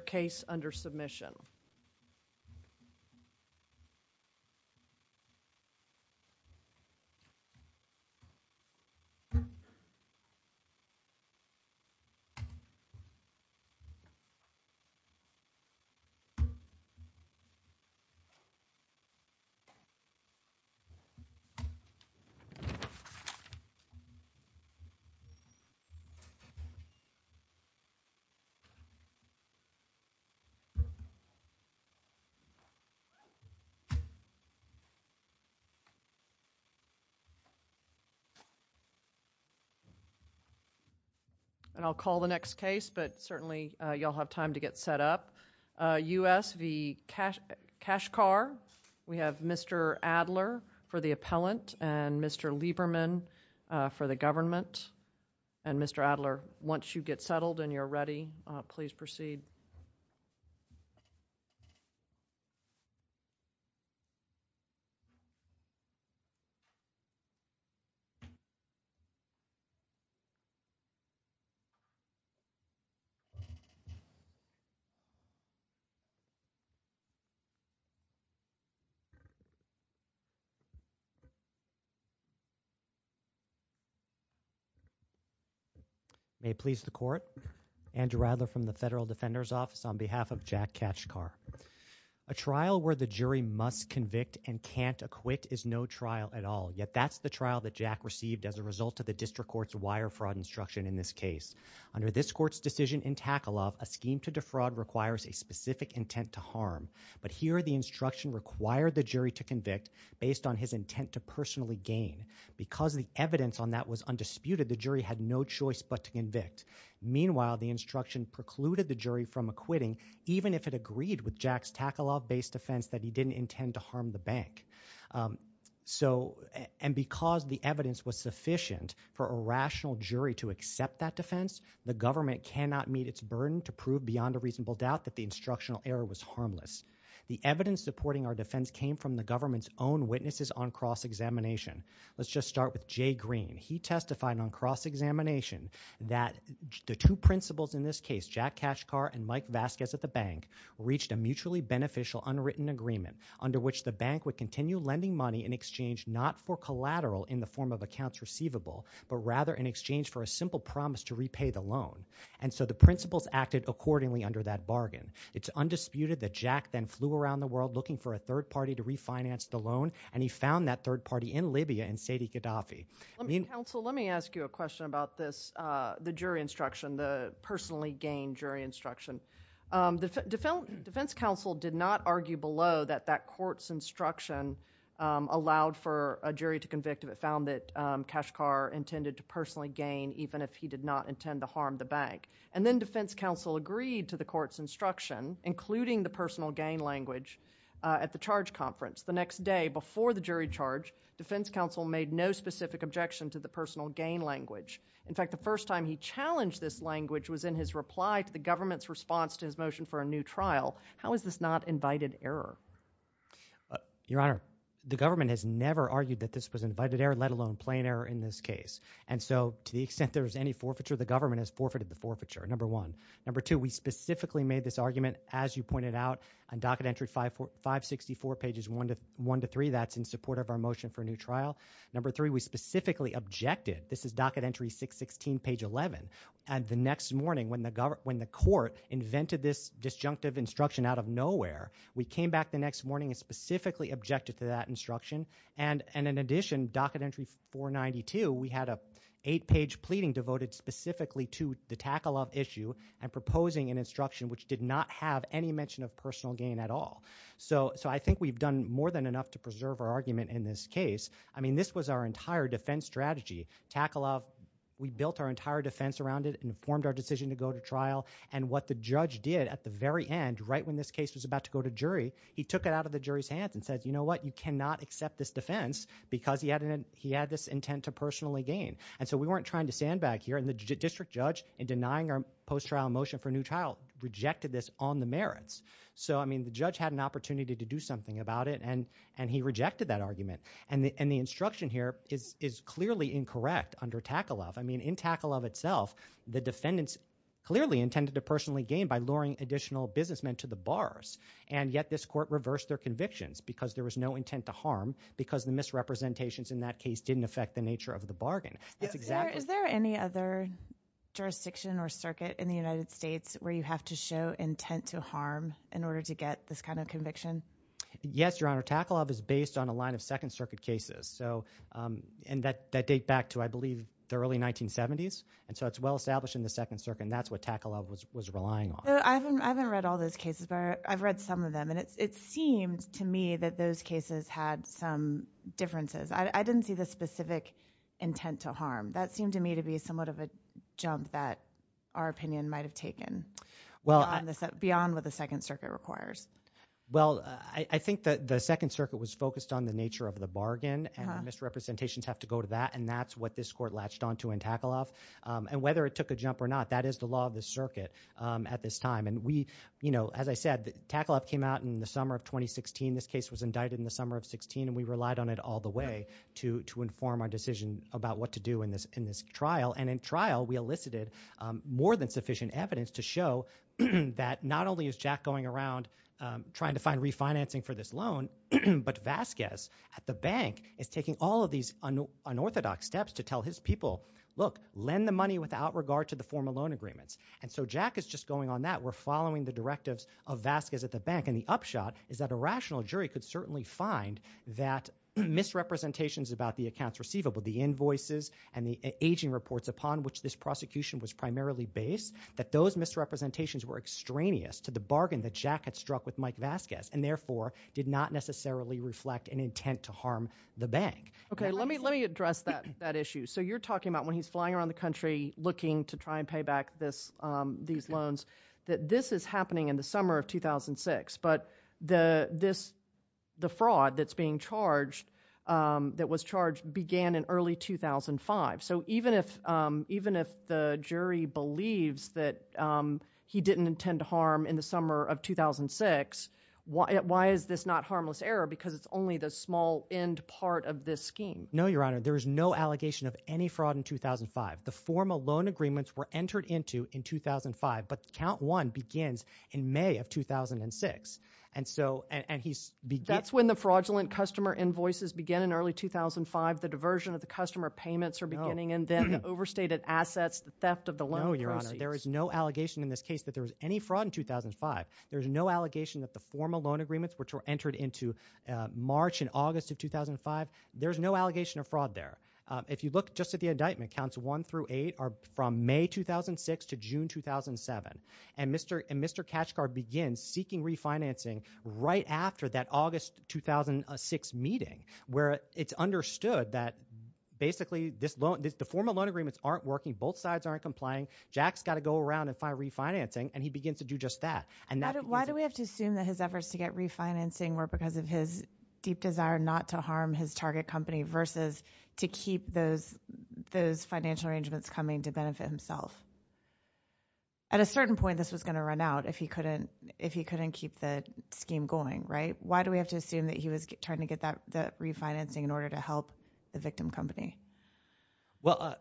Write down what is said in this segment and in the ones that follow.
case under submission. I'll call the next case, but certainly you all have time to get set up. U.S. v. Kachkar. We have Mr. Adler for the appellant and Mr. Lieberman for the government. Mr. Adler, once you get settled and you're ready, please proceed. May it please the Court, Andrew Adler from the Federal Defender's Association. A trial where the jury must convict and can't acquit is no trial at all. Yet that's the trial that Jack received as a result of the district court's wire fraud instruction in this case. Under this court's decision in Tackle-Off, a scheme to defraud requires a specific intent to harm. But here the instruction required the jury to convict based on his intent to personally gain. Because the evidence on that was undisputed, the jury had no choice but to convict. Meanwhile, the instruction precluded the jury from acquitting, even if it agreed with Jack's Tackle-Off-based defense that he didn't intend to harm the bank. And because the evidence was sufficient for a rational jury to accept that defense, the government cannot meet its burden to prove beyond a reasonable doubt that the instructional error was harmless. The evidence supporting our defense came from the government's own defense examination that the two principals in this case, Jack Cashkar and Mike Vasquez at the bank, reached a mutually beneficial unwritten agreement under which the bank would continue lending money in exchange not for collateral in the form of accounts receivable, but rather in exchange for a simple promise to repay the loan. And so the principals acted accordingly under that bargain. It's undisputed that Jack then flew around the world looking for a third party to refinance the loan, and he found that third party in Libya in Saidi Gaddafi. Counsel, let me ask you a question about this, the jury instruction, the personally gained jury instruction. The defense counsel did not argue below that that court's instruction allowed for a jury to convict if it found that Cashkar intended to personally gain even if he did not intend to harm the bank. And then defense counsel agreed to the court's instruction, including the personal gain language, at the charge conference. The next day before the jury charge, defense counsel made no specific objection to the personal gain language. In fact, the first time he challenged this language was in his reply to the government's response to his motion for a new trial. How is this not invited error? Your Honor, the government has never argued that this was invited error, let alone plain error in this case. And so to the extent there is any forfeiture, the government has forfeited the forfeiture, number one. Number two, we specifically made this argument, as you pointed out, on Docket Entry 564, pages 1 to 3, that's in support of our motion for a new trial. Number three, we specifically objected. This is Docket Entry 616, page 11. And the next morning when the court invented this disjunctive instruction out of nowhere, we came back the next morning and specifically objected to that instruction. And in addition, Docket Entry 492, we had an eight-page pleading devoted specifically to the tackle-off issue and proposing an instruction which did not have any mention of personal gain at all. So I think we've done more than enough to preserve our argument in this case. I mean, this was our entire defense strategy. Tackle-off, we built our entire defense around it and formed our decision to go to trial. And what the judge did at the very end, right when this case was about to go to jury, he took it out of the jury's hands and said, you know what, you cannot accept this defense because he had this intent to personally gain. And so we weren't trying to stand back here. And the district judge, in denying our post-trial motion for a new trial, rejected this on the merits. So, I mean, the judge had an opportunity to do something about it, and he rejected that argument. And the instruction here is clearly incorrect under tackle-off. I mean, in tackle-off itself, the defendants clearly intended to personally gain by luring additional businessmen to the bars. And yet this court reversed their convictions because there was no intent to harm because the misrepresentations in that case didn't affect the nature of the bargain. Is there any other jurisdiction or circuit in the United States where you have to show intent to harm in order to get this kind of conviction? Yes, Your Honor. Tackle-off is based on a line of Second Circuit cases. And that dates back to, I believe, the early 1970s. And so it's well-established in the Second Circuit, and that's what tackle-off was relying on. I haven't read all those cases, but I've read some of them. And it seemed to me that those cases had some differences. I didn't see the specific intent to harm. That seemed to me to be somewhat of a jump that our opinion might have taken beyond what the Second Circuit requires. Well, I think that the Second Circuit was focused on the nature of the bargain, and misrepresentations have to go to that, and that's what this court latched onto in tackle-off. And whether it took a jump or not, that is the law of the mountain in the summer of 2016. This case was indicted in the summer of 16, and we relied on it all the way to inform our decision about what to do in this trial. And in trial, we elicited more than sufficient evidence to show that not only is Jack going around trying to find refinancing for this loan, but Vasquez at the bank is taking all of these unorthodox steps to tell his people, look, lend the money without regard to the formal loan agreements. And so Jack is just going on that. We're following the directives of Vasquez at the bank. And the upshot is that a rational jury could certainly find that misrepresentations about the accounts receivable, the invoices and the aging reports upon which this prosecution was primarily based, that those misrepresentations were extraneous to the bargain that Jack had struck with Mike Vasquez, and therefore did not necessarily reflect an intent to harm the bank. Okay. Let me address that issue. So you're talking about when he's flying around the country looking to try and pay back these loans, that this is happening in the summer of 2006. But the fraud that's being charged, that was charged, began in early 2005. So even if the jury believes that he didn't intend to harm in the summer of 2006, why is this not harmless error? Because it's only the small end part of this scheme. No, Your Honor. There is no allegation of any fraud in 2005. The formal loan agreements were entered into in 2005. But Count 1 begins in May of 2006. And so, and he's That's when the fraudulent customer invoices begin in early 2005. The diversion of the customer payments are beginning, and then the overstated assets, the theft of the loan proceeds. No, Your Honor. There is no allegation in this case that there was any fraud in 2005. There's no allegation that the formal loan agreements, which were entered into March and August of 2005, there's no allegation of fraud there. If you look just at the indictment, Counts 1 through 8 are from May 2006 to June 2007. And Mr. Kachgar begins seeking refinancing right after that August 2006 meeting, where it's understood that basically the formal loan agreements aren't working, both sides aren't complying, Jack's got to go around and find refinancing, and he begins to do just that. And why do we have to assume that his efforts to get refinancing were because of his deep financial arrangements coming to benefit himself? At a certain point, this was going to run out if he couldn't, if he couldn't keep the scheme going, right? Why do we have to assume that he was trying to get that refinancing in order to help the victim company? Well,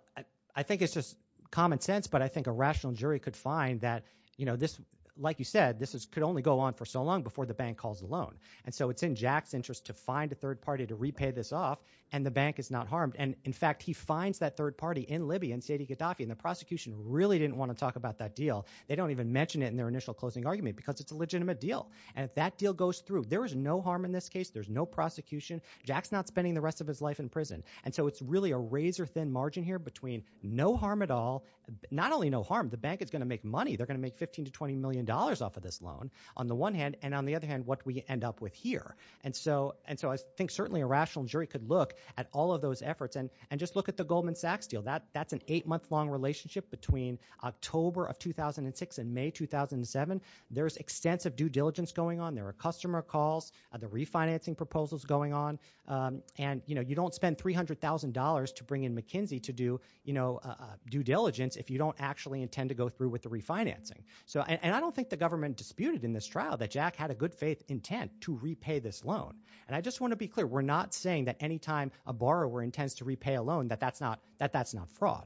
I think it's just common sense, but I think a rational jury could find that, you know, this, like you said, this could only go on for so long before the bank calls the loan. And so it's in Jack's interest to find a third party to repay this off, and the bank is not harmed. And in fact, he finds that third party in Libya, in Saidi Gaddafi, and the prosecution really didn't want to talk about that deal. They don't even mention it in their initial closing argument, because it's a legitimate deal. And if that deal goes through, there is no harm in this case, there's no prosecution, Jack's not spending the rest of his life in prison. And so it's really a razor-thin margin here between no harm at all, not only no harm, the bank is going to make money, they're going to make 15 to 20 million dollars off of this loan, on the one hand, and on the other hand, what we end up with here. And so I think certainly a rational jury could look at all of those efforts, and just look at the Goldman Sachs deal. That's an eight-month-long relationship between October of 2006 and May 2007. There's extensive due diligence going on, there are customer calls, the refinancing proposal's going on, and you know, you don't spend $300,000 to bring in McKinsey to do, you know, due diligence if you don't actually intend to go through with the refinancing. And I don't think the government disputed in this trial that Jack had a good intent to repay this loan. And I just want to be clear, we're not saying that any time a borrower intends to repay a loan, that that's not fraud.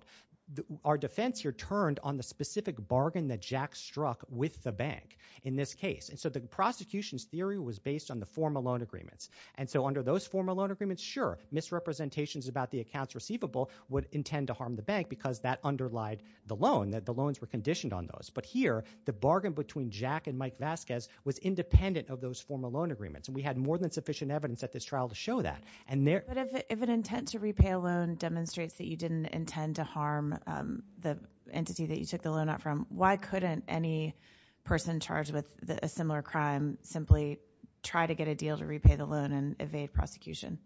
Our defense here turned on the specific bargain that Jack struck with the bank in this case. And so the prosecution's theory was based on the formal loan agreements. And so under those formal loan agreements, sure, misrepresentations about the accounts receivable would intend to harm the bank because that underlied the loan, that the loans were conditioned on those. But here, the bargain between Jack and Mike Vasquez was independent of those formal loan agreements. And we had more than sufficient evidence at this trial to show that. And there- But if an intent to repay a loan demonstrates that you didn't intend to harm the entity that you took the loan out from, why couldn't any person charged with a similar crime simply try to get a deal to repay the loan and evade prosecution?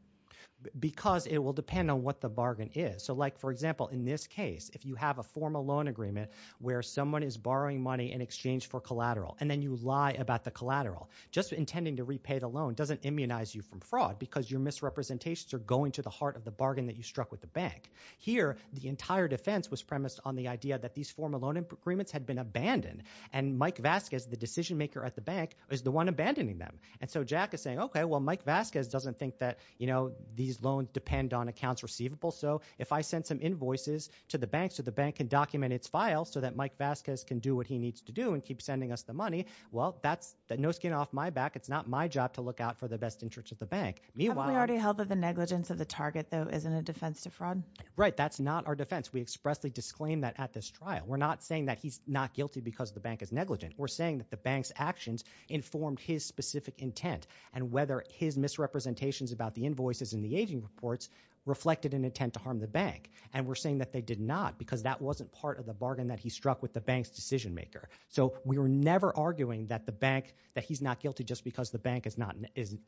Because it will depend on what the bargain is. So like, for example, in this case, if you have a formal loan agreement where someone is borrowing money in exchange for collateral, and then you lie about the collateral, just intending to repay the loan doesn't immunize you from fraud because your misrepresentations are going to the heart of the bargain that you struck with the bank. Here, the entire defense was premised on the idea that these formal loan agreements had been abandoned. And Mike Vasquez, the decision maker at the bank, is the one abandoning them. And so Jack is saying, okay, well, Mike Vasquez doesn't think that, you know, these loans depend on accounts receivable. So if I sent some invoices to the bank so the bank can document its files so that Mike Vasquez can do what he needs to do and keep sending us the money, well, that's no skin off my back. It's not my job to look out for the best interest of the bank. Meanwhile... Haven't we already held that the negligence of the target, though, isn't a defense to fraud? Right. That's not our defense. We expressly disclaimed that at this trial. We're not saying that he's not guilty because the bank is negligent. We're saying that the bank's actions informed his specific intent and whether his misrepresentations about the invoices and the aging reports reflected an intent to harm the bank. And we're saying that they did not because that wasn't part of the bargain that he struck with the bank's decision maker. So we were never arguing that the bank, that he's not guilty just because the bank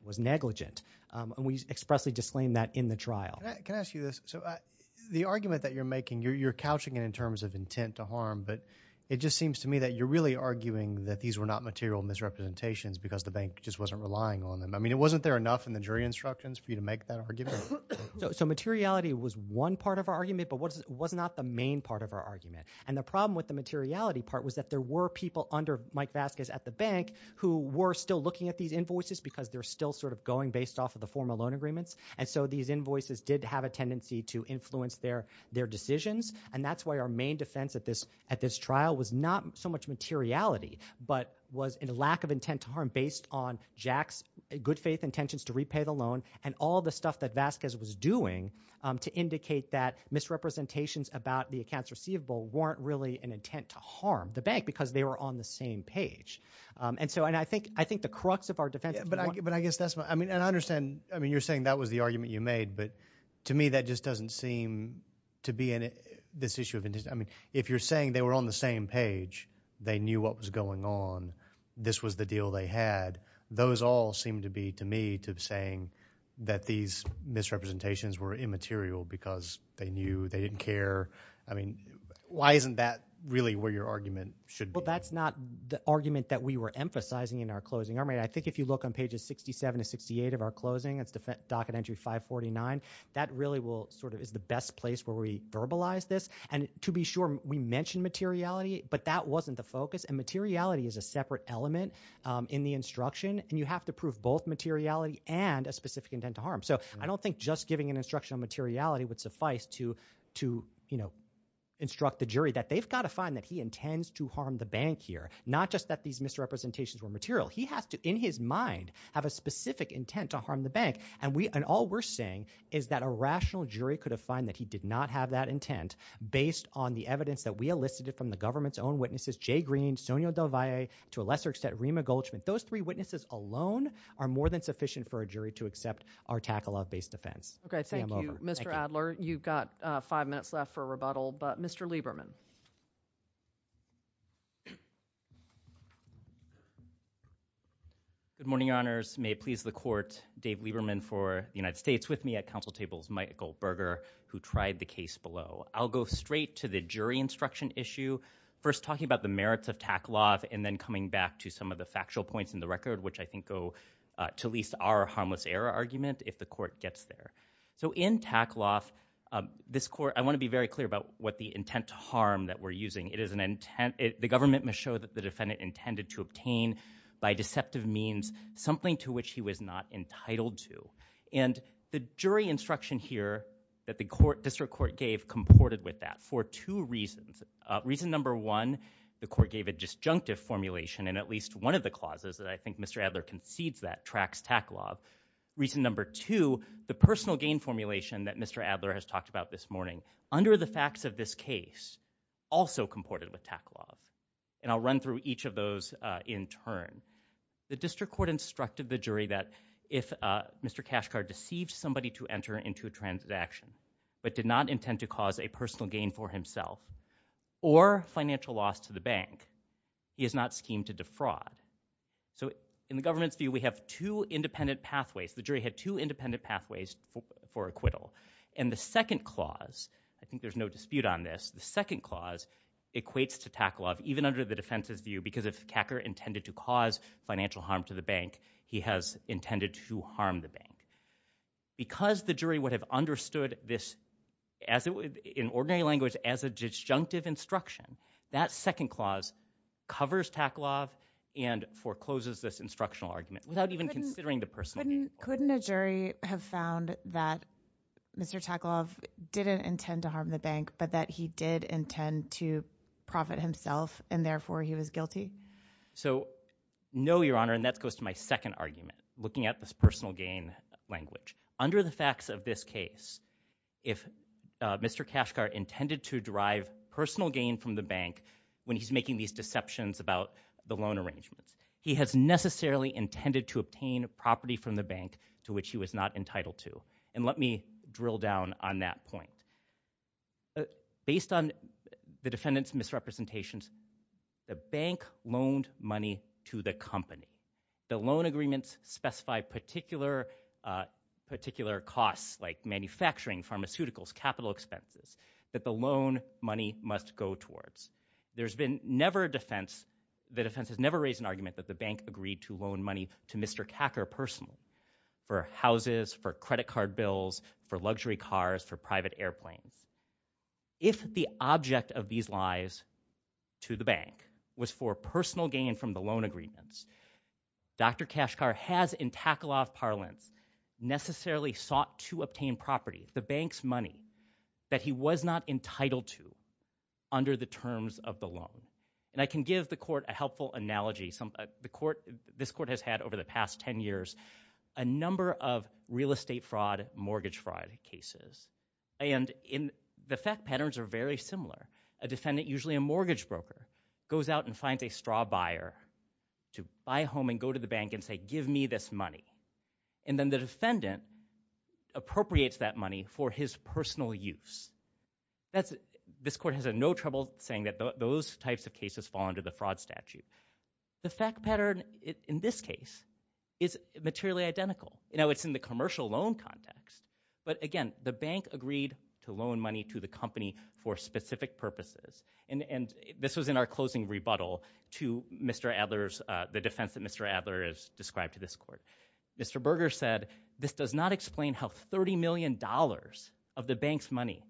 was negligent. And we expressly disclaimed that in the trial. Can I ask you this? So the argument that you're making, you're couching it in terms of intent to harm, but it just seems to me that you're really arguing that these were not material misrepresentations because the bank just wasn't relying on them. I mean, wasn't there enough in the jury instructions for you to make that argument? So materiality was one part of our argument, but it was not the main part of our argument. And the problem with the materiality part was that there were people under Mike Vasquez at the bank who were still looking at these invoices because they're still sort of going based off of the formal loan agreements. And so these invoices did have a tendency to influence their decisions. And that's why our main defense at this trial was not so much materiality, but was a lack of intent to harm based on Jack's good faith intentions to repay the money that Mike Vasquez was doing to indicate that misrepresentations about the accounts receivable weren't really an intent to harm the bank because they were on the same page. And so, and I think, I think the crux of our defense. But I guess that's my, I mean, and I understand, I mean, you're saying that was the argument you made, but to me that just doesn't seem to be in this issue of intent. I mean, if you're saying they were on the same page, they knew what was going on. This was the misrepresentations were immaterial because they knew, they didn't care. I mean, why isn't that really where your argument should be? Well, that's not the argument that we were emphasizing in our closing. I mean, I think if you look on pages 67 to 68 of our closing, it's docket entry 549, that really will sort of is the best place where we verbalize this. And to be sure, we mentioned materiality, but that wasn't the focus. And materiality is a separate element in the instruction and So, I don't think just giving an instruction on materiality would suffice to, to, you know, instruct the jury that they've got to find that he intends to harm the bank here. Not just that these misrepresentations were material. He has to, in his mind, have a specific intent to harm the bank. And we, and all we're saying is that a rational jury could have found that he did not have that intent based on the evidence that we elicited from the government's own witnesses, Jay Green, Sonia Del Valle, to a lesser extent, Rima Goldschmidt. Those three are sufficient for a jury to accept our Tackle-Off based defense. Okay, thank you, Mr. Adler. You've got five minutes left for rebuttal, but Mr. Lieberman. Good morning, your honors. May it please the court, Dave Lieberman for the United States, with me at council tables, Michael Berger, who tried the case below. I'll go straight to the jury instruction issue. First, talking about the merits of Tackle-Off, and then coming back to some of the factual points in the record, which I think go to at least our harmless error argument, if the court gets there. So in Tackle-Off, this court, I want to be very clear about what the intent to harm that we're using. It is an intent, the government must show that the defendant intended to obtain, by deceptive means, something to which he was not entitled to. And the jury instruction here that the court, district court, gave comported with that for two reasons. Reason number one, the court gave a disjunctive formulation, and at least one of the clauses that I think Mr. Adler concedes that tracks Tackle-Off. Reason number two, the personal gain formulation that Mr. Adler has talked about this morning, under the facts of this case, also comported with Tackle-Off. And I'll run through each of those in turn. The district court instructed the jury that if Mr. Cashcard deceived somebody to enter into a transaction, but did not intend to cause a personal gain for himself, or financial loss to the bank, he is not schemed to defraud. So in the government's view, we have two independent pathways. The jury had two independent pathways for acquittal. And the second clause, I think there's no dispute on this, the second clause equates to Tackle-Off, even under the defense's view, because if Cacker intended to cause financial harm to the bank, he has intended to harm the bank. Because the jury would have understood this in ordinary language as a disjunctive instruction, that second clause covers Tackle-Off and forecloses this instructional argument, without even considering the personal gain clause. Couldn't a jury have found that Mr. Tackle-Off didn't intend to harm the bank, but that he did intend to profit himself, and therefore he was guilty? So no, Your Honor, and that goes to my second argument, looking at this personal gain language. Under the facts of this case, if Mr. Cashcard intended to derive personal gain from the bank, when he's making these deceptions about the loan arrangements, he has necessarily intended to obtain property from the bank to which he was not entitled to. And let me drill down on that point. Based on the defendant's misrepresentations, the bank loaned money to the company. The loan agreements specify particular costs, like manufacturing, pharmaceuticals, capital expenses, that the loan money must go towards. There's been never a defense, the defense has never raised an argument that the bank agreed to loan money to Mr. Cacker personally, for houses, for credit card bills, for luxury cars, for private airplanes. If the object of these lies to the bank was for personal gain from the loan agreements, Dr. Cashcard has in Tackle-Off parlance necessarily sought to obtain property, the bank's money, that he was not entitled to under the terms of the loan. And I can give the court a helpful analogy. The court, this court has had over the past 10 years a number of real estate fraud, mortgage fraud cases. And the fact patterns are very similar. A defendant, usually a mortgage broker, goes out and finds a straw buyer to buy a home and go to the bank and say, give me this money. And then the defendant appropriates that money for his personal use. This court has no trouble saying that those types of cases fall under the fraud statute. The fact pattern in this case is materially identical. You know, it's in the commercial loan context. But again, the bank agreed to loan money to the company for specific purposes. And this was in our closing rebuttal to Mr. Adler's, the defense that Mr. Adler has described to this court. Mr. Berger said, this does not explain how $30 million of the bank's money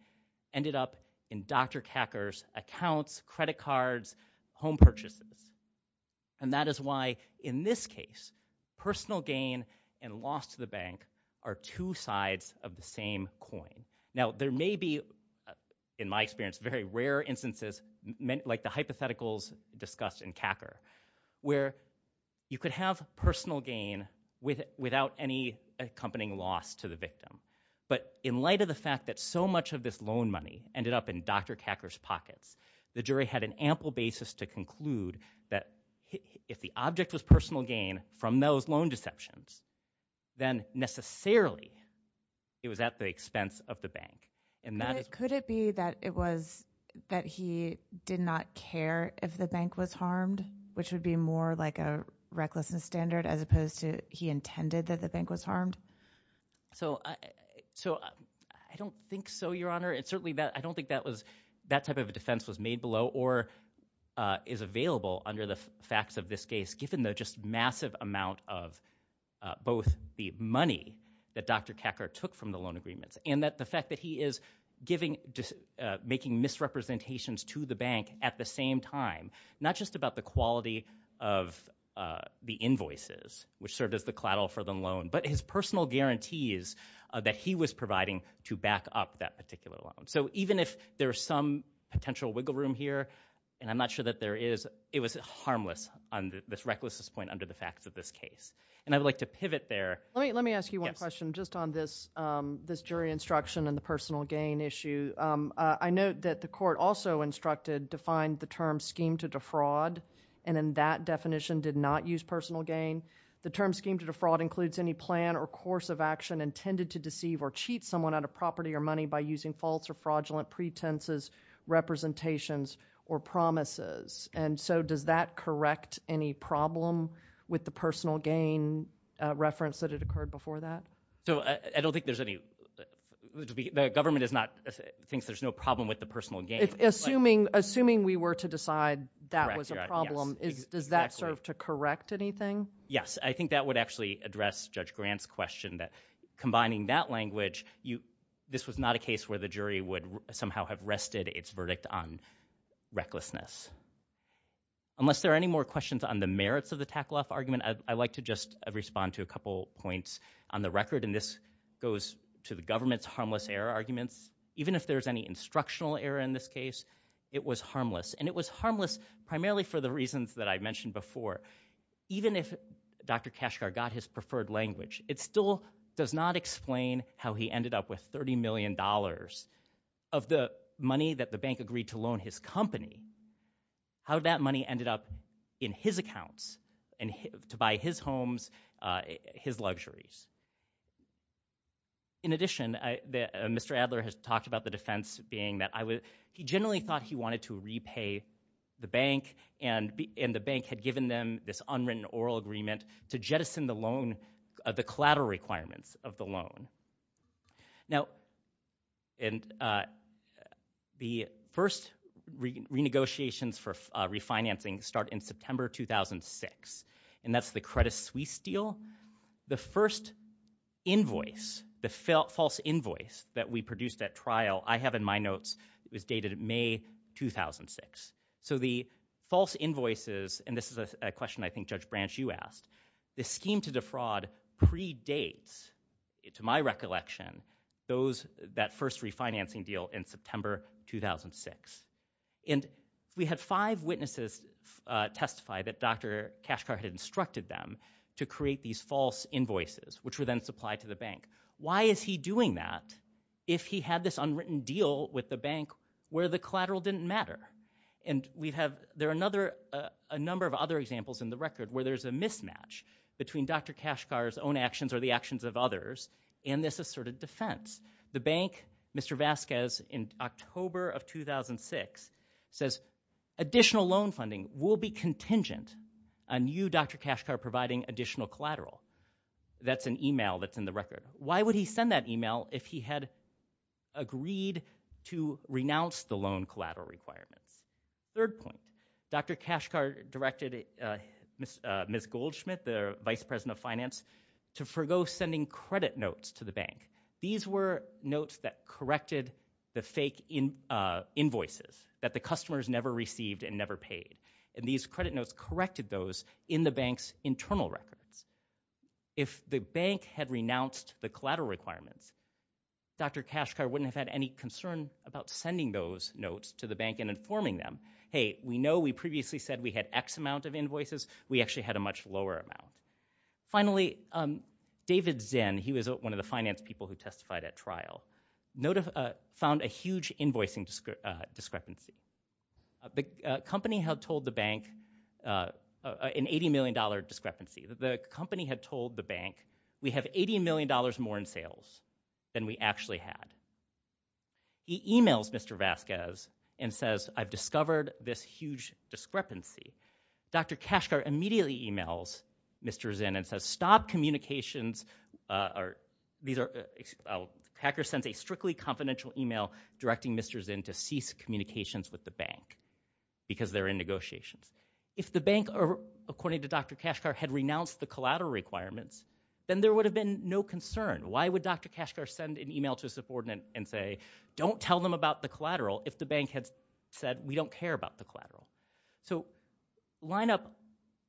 ended up in Dr. Kakar's accounts, credit cards, home purchases. And that is why, in this case, personal gain and loss to the bank are two sides of the same coin. Now there may be, in my experience, very rare instances, like the hypotheticals discussed in Kakar, where you could have personal gain without any accompanying loss to the victim. But in light of the fact that so much of this loan money ended up in Dr. Kakar's pockets, the jury had an ample basis to conclude that if the object was personal gain from those loan deceptions, then necessarily it was at the expense of the bank. And that is- Could it be that it was that he did not care if the bank was harmed, which would be more like a recklessness standard, as opposed to he intended that the bank was harmed? So I don't think so, Your Honor. It's certainly that- I don't think that was- that type of a defense was made below or is available under the facts of this case, given the just massive amount of both the money that Dr. Kakar took from the loan agreements, and that the fact that he is giving- not just about the quality of the invoices, which served as the claddle for the loan, but his personal guarantees that he was providing to back up that particular loan. So even if there is some potential wiggle room here, and I'm not sure that there is, it was harmless on this recklessness point under the facts of this case. And I would like to pivot there- Let me ask you one question just on this jury instruction and the personal gain issue. I note that the court also instructed to find the term scheme to defraud, and in that definition did not use personal gain. The term scheme to defraud includes any plan or course of action intended to deceive or cheat someone out of property or money by using false or fraudulent pretenses, representations, or promises. And so does that correct any problem with the personal gain reference that had occurred before that? So I don't think there's any- the government is not- thinks there's no problem with the personal gain. Assuming we were to decide that was a problem, does that serve to correct anything? Yes, I think that would actually address Judge Grant's question that combining that language, this was not a case where the jury would somehow have rested its verdict on recklessness. Unless there are any more questions on the merits of the Tackle Off argument, I'd like to just respond to a couple points on the record, and this goes to the government's harmless error arguments. Even if there's any instructional error in this case, it was harmless, and it was harmless primarily for the reasons that I mentioned before. Even if Dr. Kashgar got his preferred language, it still does not explain how he ended up with 30 million dollars of the money that the bank agreed to loan his company, how that money ended up in his accounts and to buy his homes, his luxuries. In addition, Mr. Adler has talked about the defense being that he generally thought he wanted to repay the bank, and the bank had given them this unwritten oral agreement to jettison the collateral requirements of the loan. Now, the first renegotiations for refinancing start in September 2006, and that's the Credit Suisse deal. The first invoice, the false invoice that we produced at trial, I have in my notes, it was dated May 2006. So the false invoices, and this is a question I think Judge Branch, you asked, the scheme to defraud predates, to my recollection, that first refinancing deal in September 2006. And we had five witnesses testify that Dr. Kashgar had instructed them to create these false invoices, which were then supplied to the bank. Why is he doing that if he had this unwritten deal with the bank where the collateral didn't matter? And we have, there are another, a number of other examples in the record where there's a mismatch between Dr. Kashgar's own actions or the actions of others, and this asserted defense. The bank, Mr. Vasquez, in October of 2006 says, additional loan funding will be contingent on you, Dr. Kashgar, providing additional collateral. That's an email that's in the record. Why would he send that email if he had agreed to renounce the loan collateral requirements? Third point, Dr. Kashgar directed Ms. Goldschmidt, the bank, to forego sending credit notes to the bank. These were notes that corrected the fake invoices that the customers never received and never paid. And these credit notes corrected those in the bank's internal records. If the bank had renounced the collateral requirements, Dr. Kashgar wouldn't have had any concern about sending those notes to the bank and informing them, hey, we know we previously said we had X amount of invoices. We actually had a much lower amount. Finally, David Zinn, he was one of the finance people who testified at trial, found a huge invoicing discrepancy. The company had told the bank an $80 million discrepancy. The company had told the bank, we have $80 million more in sales than we actually had. He emails Mr. Vasquez and says, I've discovered this huge discrepancy. Dr. Kashgar immediately emails Mr. Zinn and says, stop communications, or these are, Packer sends a strictly confidential email directing Mr. Zinn to cease communications with the bank because they're in negotiations. If the bank, according to Dr. Kashgar, had renounced the collateral requirements, then there would have been no concern. Why would Dr. Kashgar send an email to his subordinate and say, don't tell them about the collateral if the bank had said, we don't care about the collateral? So, line up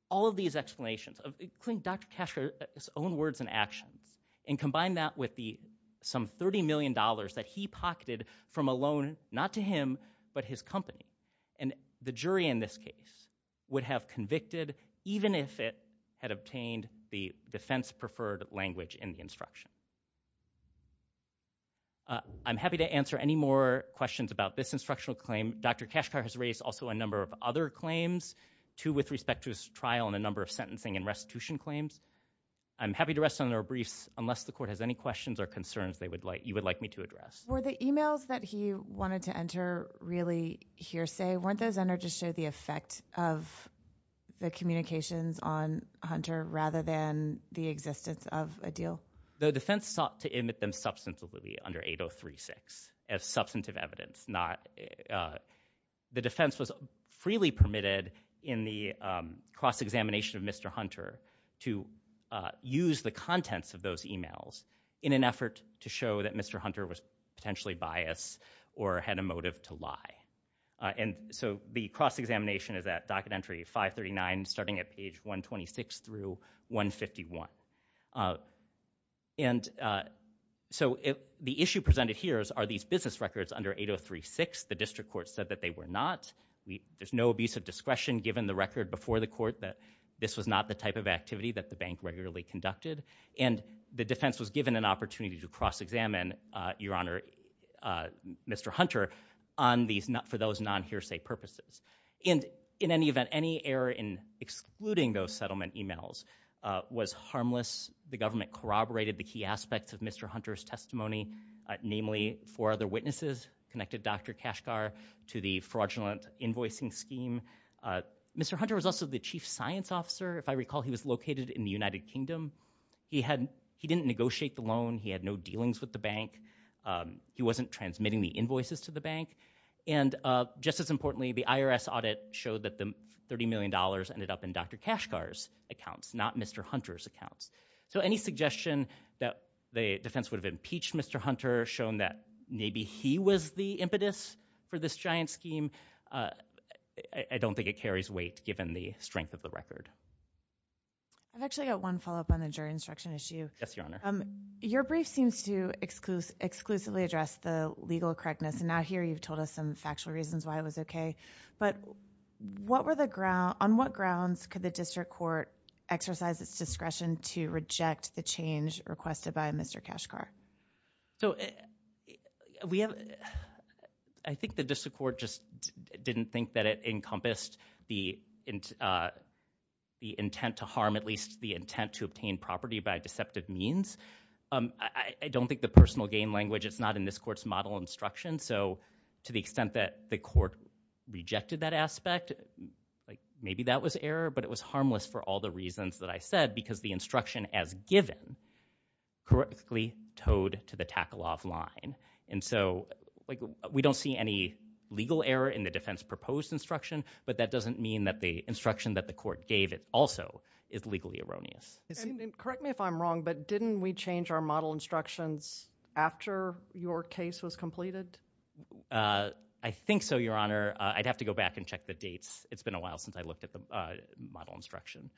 all of these explanations, including Dr. Kashgar's own words and actions, and combine that with the some $30 million that he pocketed from a loan, not to him, but his company. And the jury in this case would have convicted, even if it had obtained the defense preferred language in the instruction. I'm happy to answer any more questions about this instructional claim. Dr. Kashgar has raised also a number of other claims, two with respect to his trial and a number of sentencing and restitution claims. I'm happy to rest on their briefs unless the court has any questions or concerns they would like, you would like me to address. Were the emails that he wanted to enter really hearsay? Weren't those entered to show the effect of the communications on Hunter rather than the existence of a deal? The defense sought to emit them substantively under 8036 as substantive evidence. The defense was freely permitted in the cross-examination of Mr. Hunter to use the contents of those emails in an effort to show that Mr. Hunter was potentially biased or had a motive to lie. And so the cross-examination is at docket entry 539, starting at page 126 through 151. And so the issue presented here is, are these business records under 8036? The district court said that they were not. There's no abuse of discretion given the record before the court that this was not the type of activity that the bank regularly conducted. And the defense was given an opportunity to cross-examine, your honor, Mr. Hunter, for those non-hearsay purposes. And in any event, any error in excluding those settlement emails was harmless. The government corroborated the key aspects of Mr. Hunter's testimony, namely four other witnesses connected Dr. Kashgar to the fraudulent invoicing scheme. Mr. Hunter was also the chief science officer. If I recall, he was located in the United Kingdom. He didn't negotiate the loan. He had no dealings with the bank. He wasn't transmitting the invoices to the bank. And just as importantly, the IRS audit showed that the $30 million ended up in Dr. Kashgar's accounts, not Mr. Hunter's accounts. So any suggestion that the defense would have impeached Mr. Hunter, shown that maybe he was the impetus for this giant scheme, I don't think it carries weight given the strength of the record. I've actually got one follow-up on the jury instruction issue. Yes, your honor. Your brief seems to exclusively address the legal correctness. And now here you've told us some but on what grounds could the district court exercise its discretion to reject the change requested by Mr. Kashgar? So I think the district court just didn't think that it encompassed the intent to harm, at least the intent to obtain property by deceptive means. I don't think the personal gain language, it's not in this court's model instruction. So to the extent that the district court rejected that aspect, maybe that was error, but it was harmless for all the reasons that I said because the instruction as given correctly toed to the tackle-off line. And so we don't see any legal error in the defense proposed instruction, but that doesn't mean that the instruction that the court gave also is legally erroneous. Correct me if I'm wrong, but didn't we change our model instructions after your case was completed? I think so, your honor. I'd have to go back and check the dates. It's been a while since I looked at the model instruction.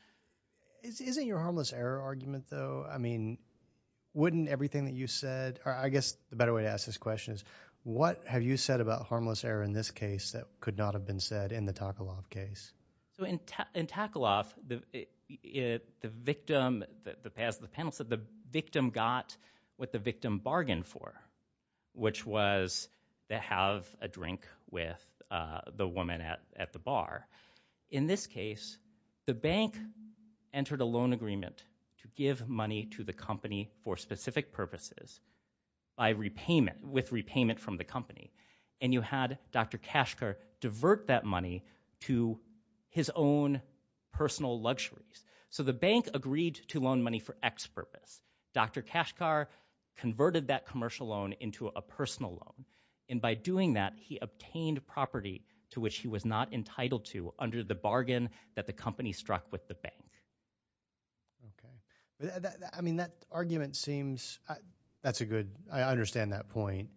Isn't your harmless error argument though, I mean, wouldn't everything that you said, I guess the better way to ask this question is what have you said about harmless error in this case that could not have been said in the tackle-off case? So in tackle-off, the victim, the panel said the victim got what the victim bargained for, which was to have a drink with the woman at the bar. In this case, the bank entered a loan agreement to give money to the company for specific purposes by repayment, with repayment from the company. And you had Dr. Kashkar divert that money to his own personal luxuries. So the bank agreed to loan money for X purpose. Dr. Kashkar converted that commercial loan into a personal loan. And by doing that, he obtained property to which he was not entitled to under the bargain that the company struck with the bank. Okay. I mean, that argument seems, that's a good, I understand that point,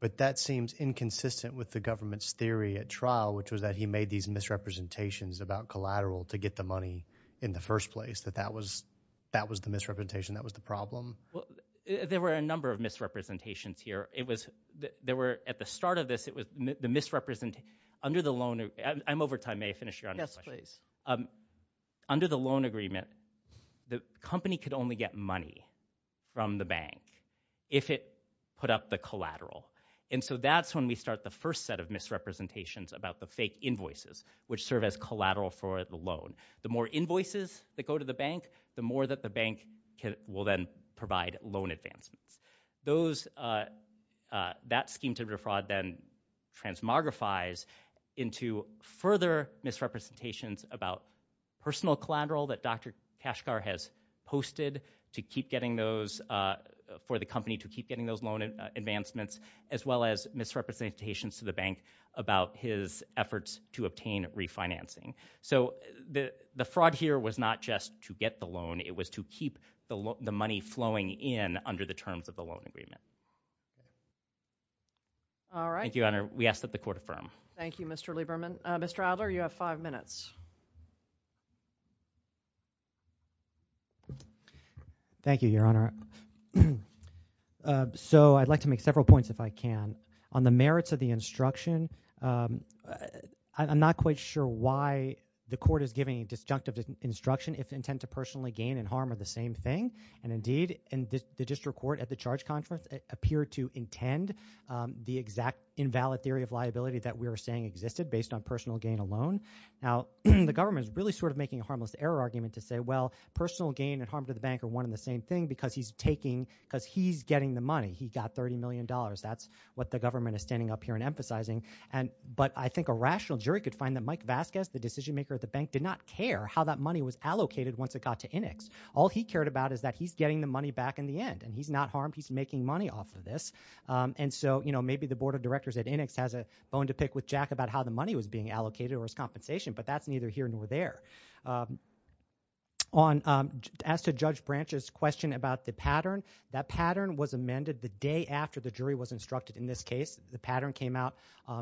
but that seems inconsistent with the government's theory at trial, which was that he made these misrepresentations about collateral to get the money in the first place, that that was, that was the misrepresentation. That was the problem. There were a number of misrepresentations here. It was, there were, at the start of this, it was the misrepresentation, under the loan, I'm over time, may I finish your question? Yes, please. Under the loan agreement, the company could only get money from the bank if it put up the collateral. And so that's when we start the first set of misrepresentations about the fake invoices, which serve as collateral for the loan. The more invoices that go to the bank, the more that the bank will then provide loan advancements. Those, that scheme to defraud then transmogrifies into further misrepresentations about personal collateral that Dr. Kashgar has posted to keep getting those, for the company to keep getting those loan advancements, as well as misrepresentations to the bank about his efforts to obtain refinancing. So the fraud here was not just to get the loan, it was to keep the money flowing in under the terms of the loan agreement. All right. Thank you, Your Honor. We ask that the court affirm. Thank you, Mr. Lieberman. Mr. Adler, you have five minutes. Thank you, Your Honor. So I'd like to make several points if I can. On the merits of the instruction, I'm not quite sure why the court is giving a disjunctive instruction if intent to personally gain and harm are the same thing. And indeed, the district court at the charge conference appeared to intend the exact invalid theory of liability that we were saying existed based on personal gain alone. Now, the government is really sort of making a harmless error argument to say, well, personal gain and harm to the bank are one and the same thing because he's taking, because he's getting the money. He got $30 million. That's what the government is standing up here and emphasizing. But I think a rational jury could find that Mike Vasquez, the decision was allocated once it got to INIX. All he cared about is that he's getting the money back in the end, and he's not harmed. He's making money off of this. And so maybe the board of directors at INIX has a bone to pick with Jack about how the money was being allocated or his compensation, but that's neither here nor there. As to Judge Branch's question about the pattern, that pattern was amended the day after the jury was instructed in this case. The pattern came out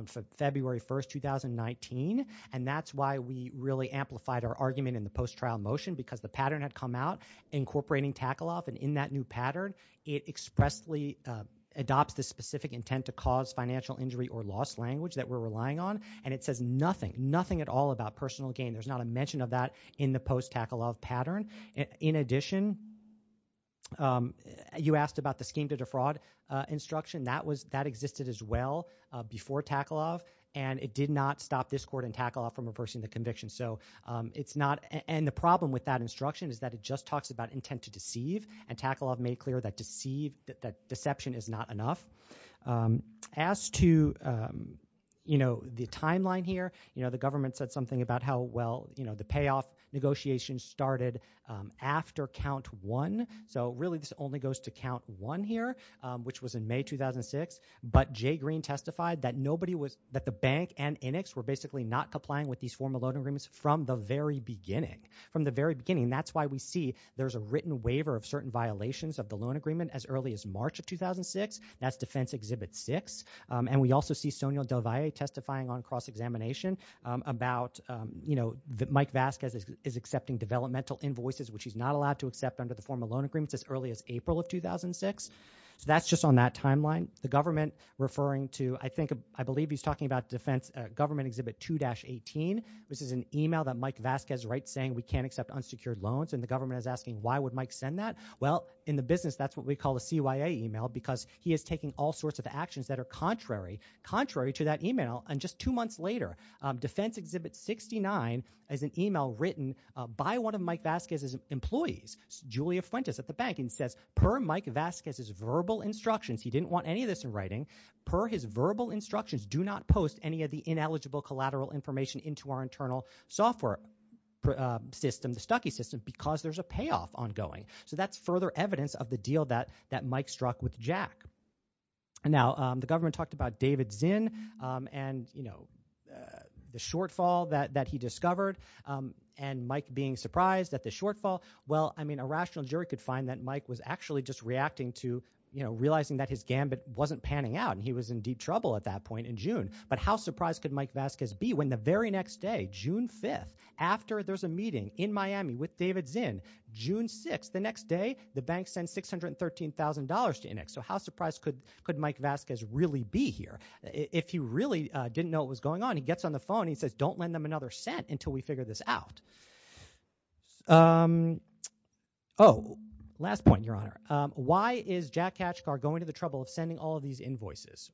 for February 1st, 2019, and that's why we really amplified our argument in the post-trial motion because the pattern had come out incorporating tackle-off. And in that new pattern, it expressly adopts the specific intent to cause financial injury or loss language that we're relying on, and it says nothing, nothing at all about personal gain. There's not a mention of that in the post-tackle-off pattern. In addition, you asked about the scheme to defraud instruction. That existed as well before tackle-off, and it did not stop this court in tackle-off from reversing the conviction. And the problem with that instruction is that it just talks about intent to deceive, and tackle-off made clear that deception is not enough. As to the timeline here, the government said something about how well the payoff negotiations started after count one. So really, this only goes to count one here, which was in May 2006, but Jay Green testified that the bank and INIX were basically not complying with these formal loan agreements from the very beginning. That's why we see there's a written waiver of certain violations of the loan agreement as early as March of 2006. That's defense exhibit six. And we also see Sonia Del Valle testifying on cross-examination about Mike Vasquez is accepting developmental invoices, which he's not allowed to accept under the formal loan agreements as early as April of 2006. So that's just on that timeline. The government referring to, I think, I believe he's talking about defense government exhibit 2-18, which is an email that Mike Vasquez writes saying we can't accept unsecured loans, and the government is asking why would Mike send that? Well, in the business, that's what we call a CYA email, because he is taking all sorts of actions that are contrary to that email. And just two months later, defense exhibit 69 is an email written by one of Mike Vasquez's employees, Julia Fuentes at the bank, and says per Mike Vasquez's verbal instructions, he didn't want any of this in writing, per his verbal instructions, do not post any of the ineligible collateral information into our internal software system, the Stucky system, because there's a payoff ongoing. So that's further evidence of the deal that Mike struck with Jack. Now, the government talked about David Zinn and the shortfall that he discovered, and Mike being surprised at the shortfall. Well, I mean, a rational jury could find that Mike was actually just reacting to realizing that his gambit wasn't panning out, and he was in deep trouble at that point in June. But how surprised could Mike Vasquez be when the very next day, June 5th, after there's a meeting in Miami with David Zinn, June 6th, the next day, the bank sends $613,000 to INEX. So how surprised could Mike Vasquez really be here? If he really didn't know what was going on, he gets on the phone, he says, don't lend them another cent until we figure this out. Oh, last point, Your Honor. Why is Jack Hatchcar going to the trouble of sending all of these invoices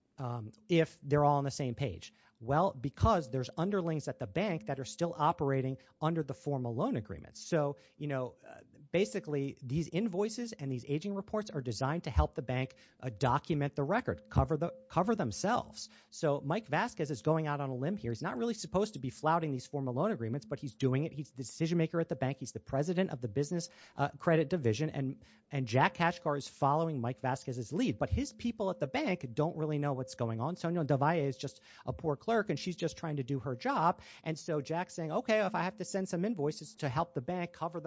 if they're all on the same page? Well, because there's underlings at the bank that are still operating under the formal loan agreement. So, you know, basically, these invoices and these invoices document the record, cover themselves. So Mike Vasquez is going out on a limb here. He's not really supposed to be flouting these formal loan agreements, but he's doing it. He's the decision-maker at the bank. He's the president of the business credit division. And Jack Hatchcar is following Mike Vasquez's lead. But his people at the bank don't really know what's going on. Sonia Devay is just a poor clerk, and she's just trying to do her job. And so Jack's saying, okay, if I have to send some invoices to help the bank cover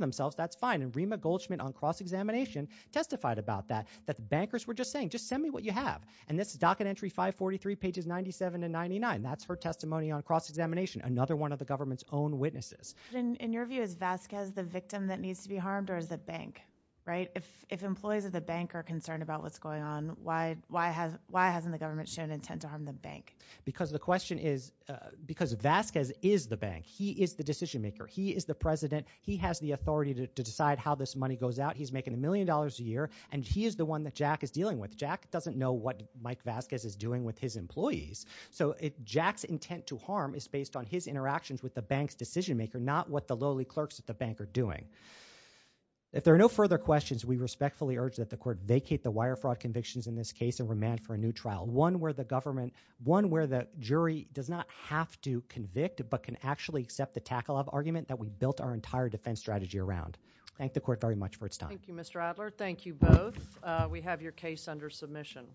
themselves, that's fine. And Rima Goldschmidt on cross-examination testified about that, that the bankers were just saying, just send me what you have. And this is docket entry 543, pages 97 to 99. That's her testimony on cross-examination, another one of the government's own witnesses. In your view, is Vasquez the victim that needs to be harmed, or is the bank, right? If employees of the bank are concerned about what's going on, why hasn't the government shown intent to harm the bank? Because the question is, because Vasquez is the bank. He is the decision-maker. He is the president. He has the million dollars a year, and he is the one that Jack is dealing with. Jack doesn't know what Mike Vasquez is doing with his employees. So Jack's intent to harm is based on his interactions with the bank's decision-maker, not what the lowly clerks at the bank are doing. If there are no further questions, we respectfully urge that the court vacate the wire fraud convictions in this case and remand for a new trial, one where the government, one where the jury does not have to convict but can actually accept the tackle-up argument that we built our entire defense strategy around. Thank the court very much for its time. Thank you, Mr. Adler. Thank you both. We have your case under submission.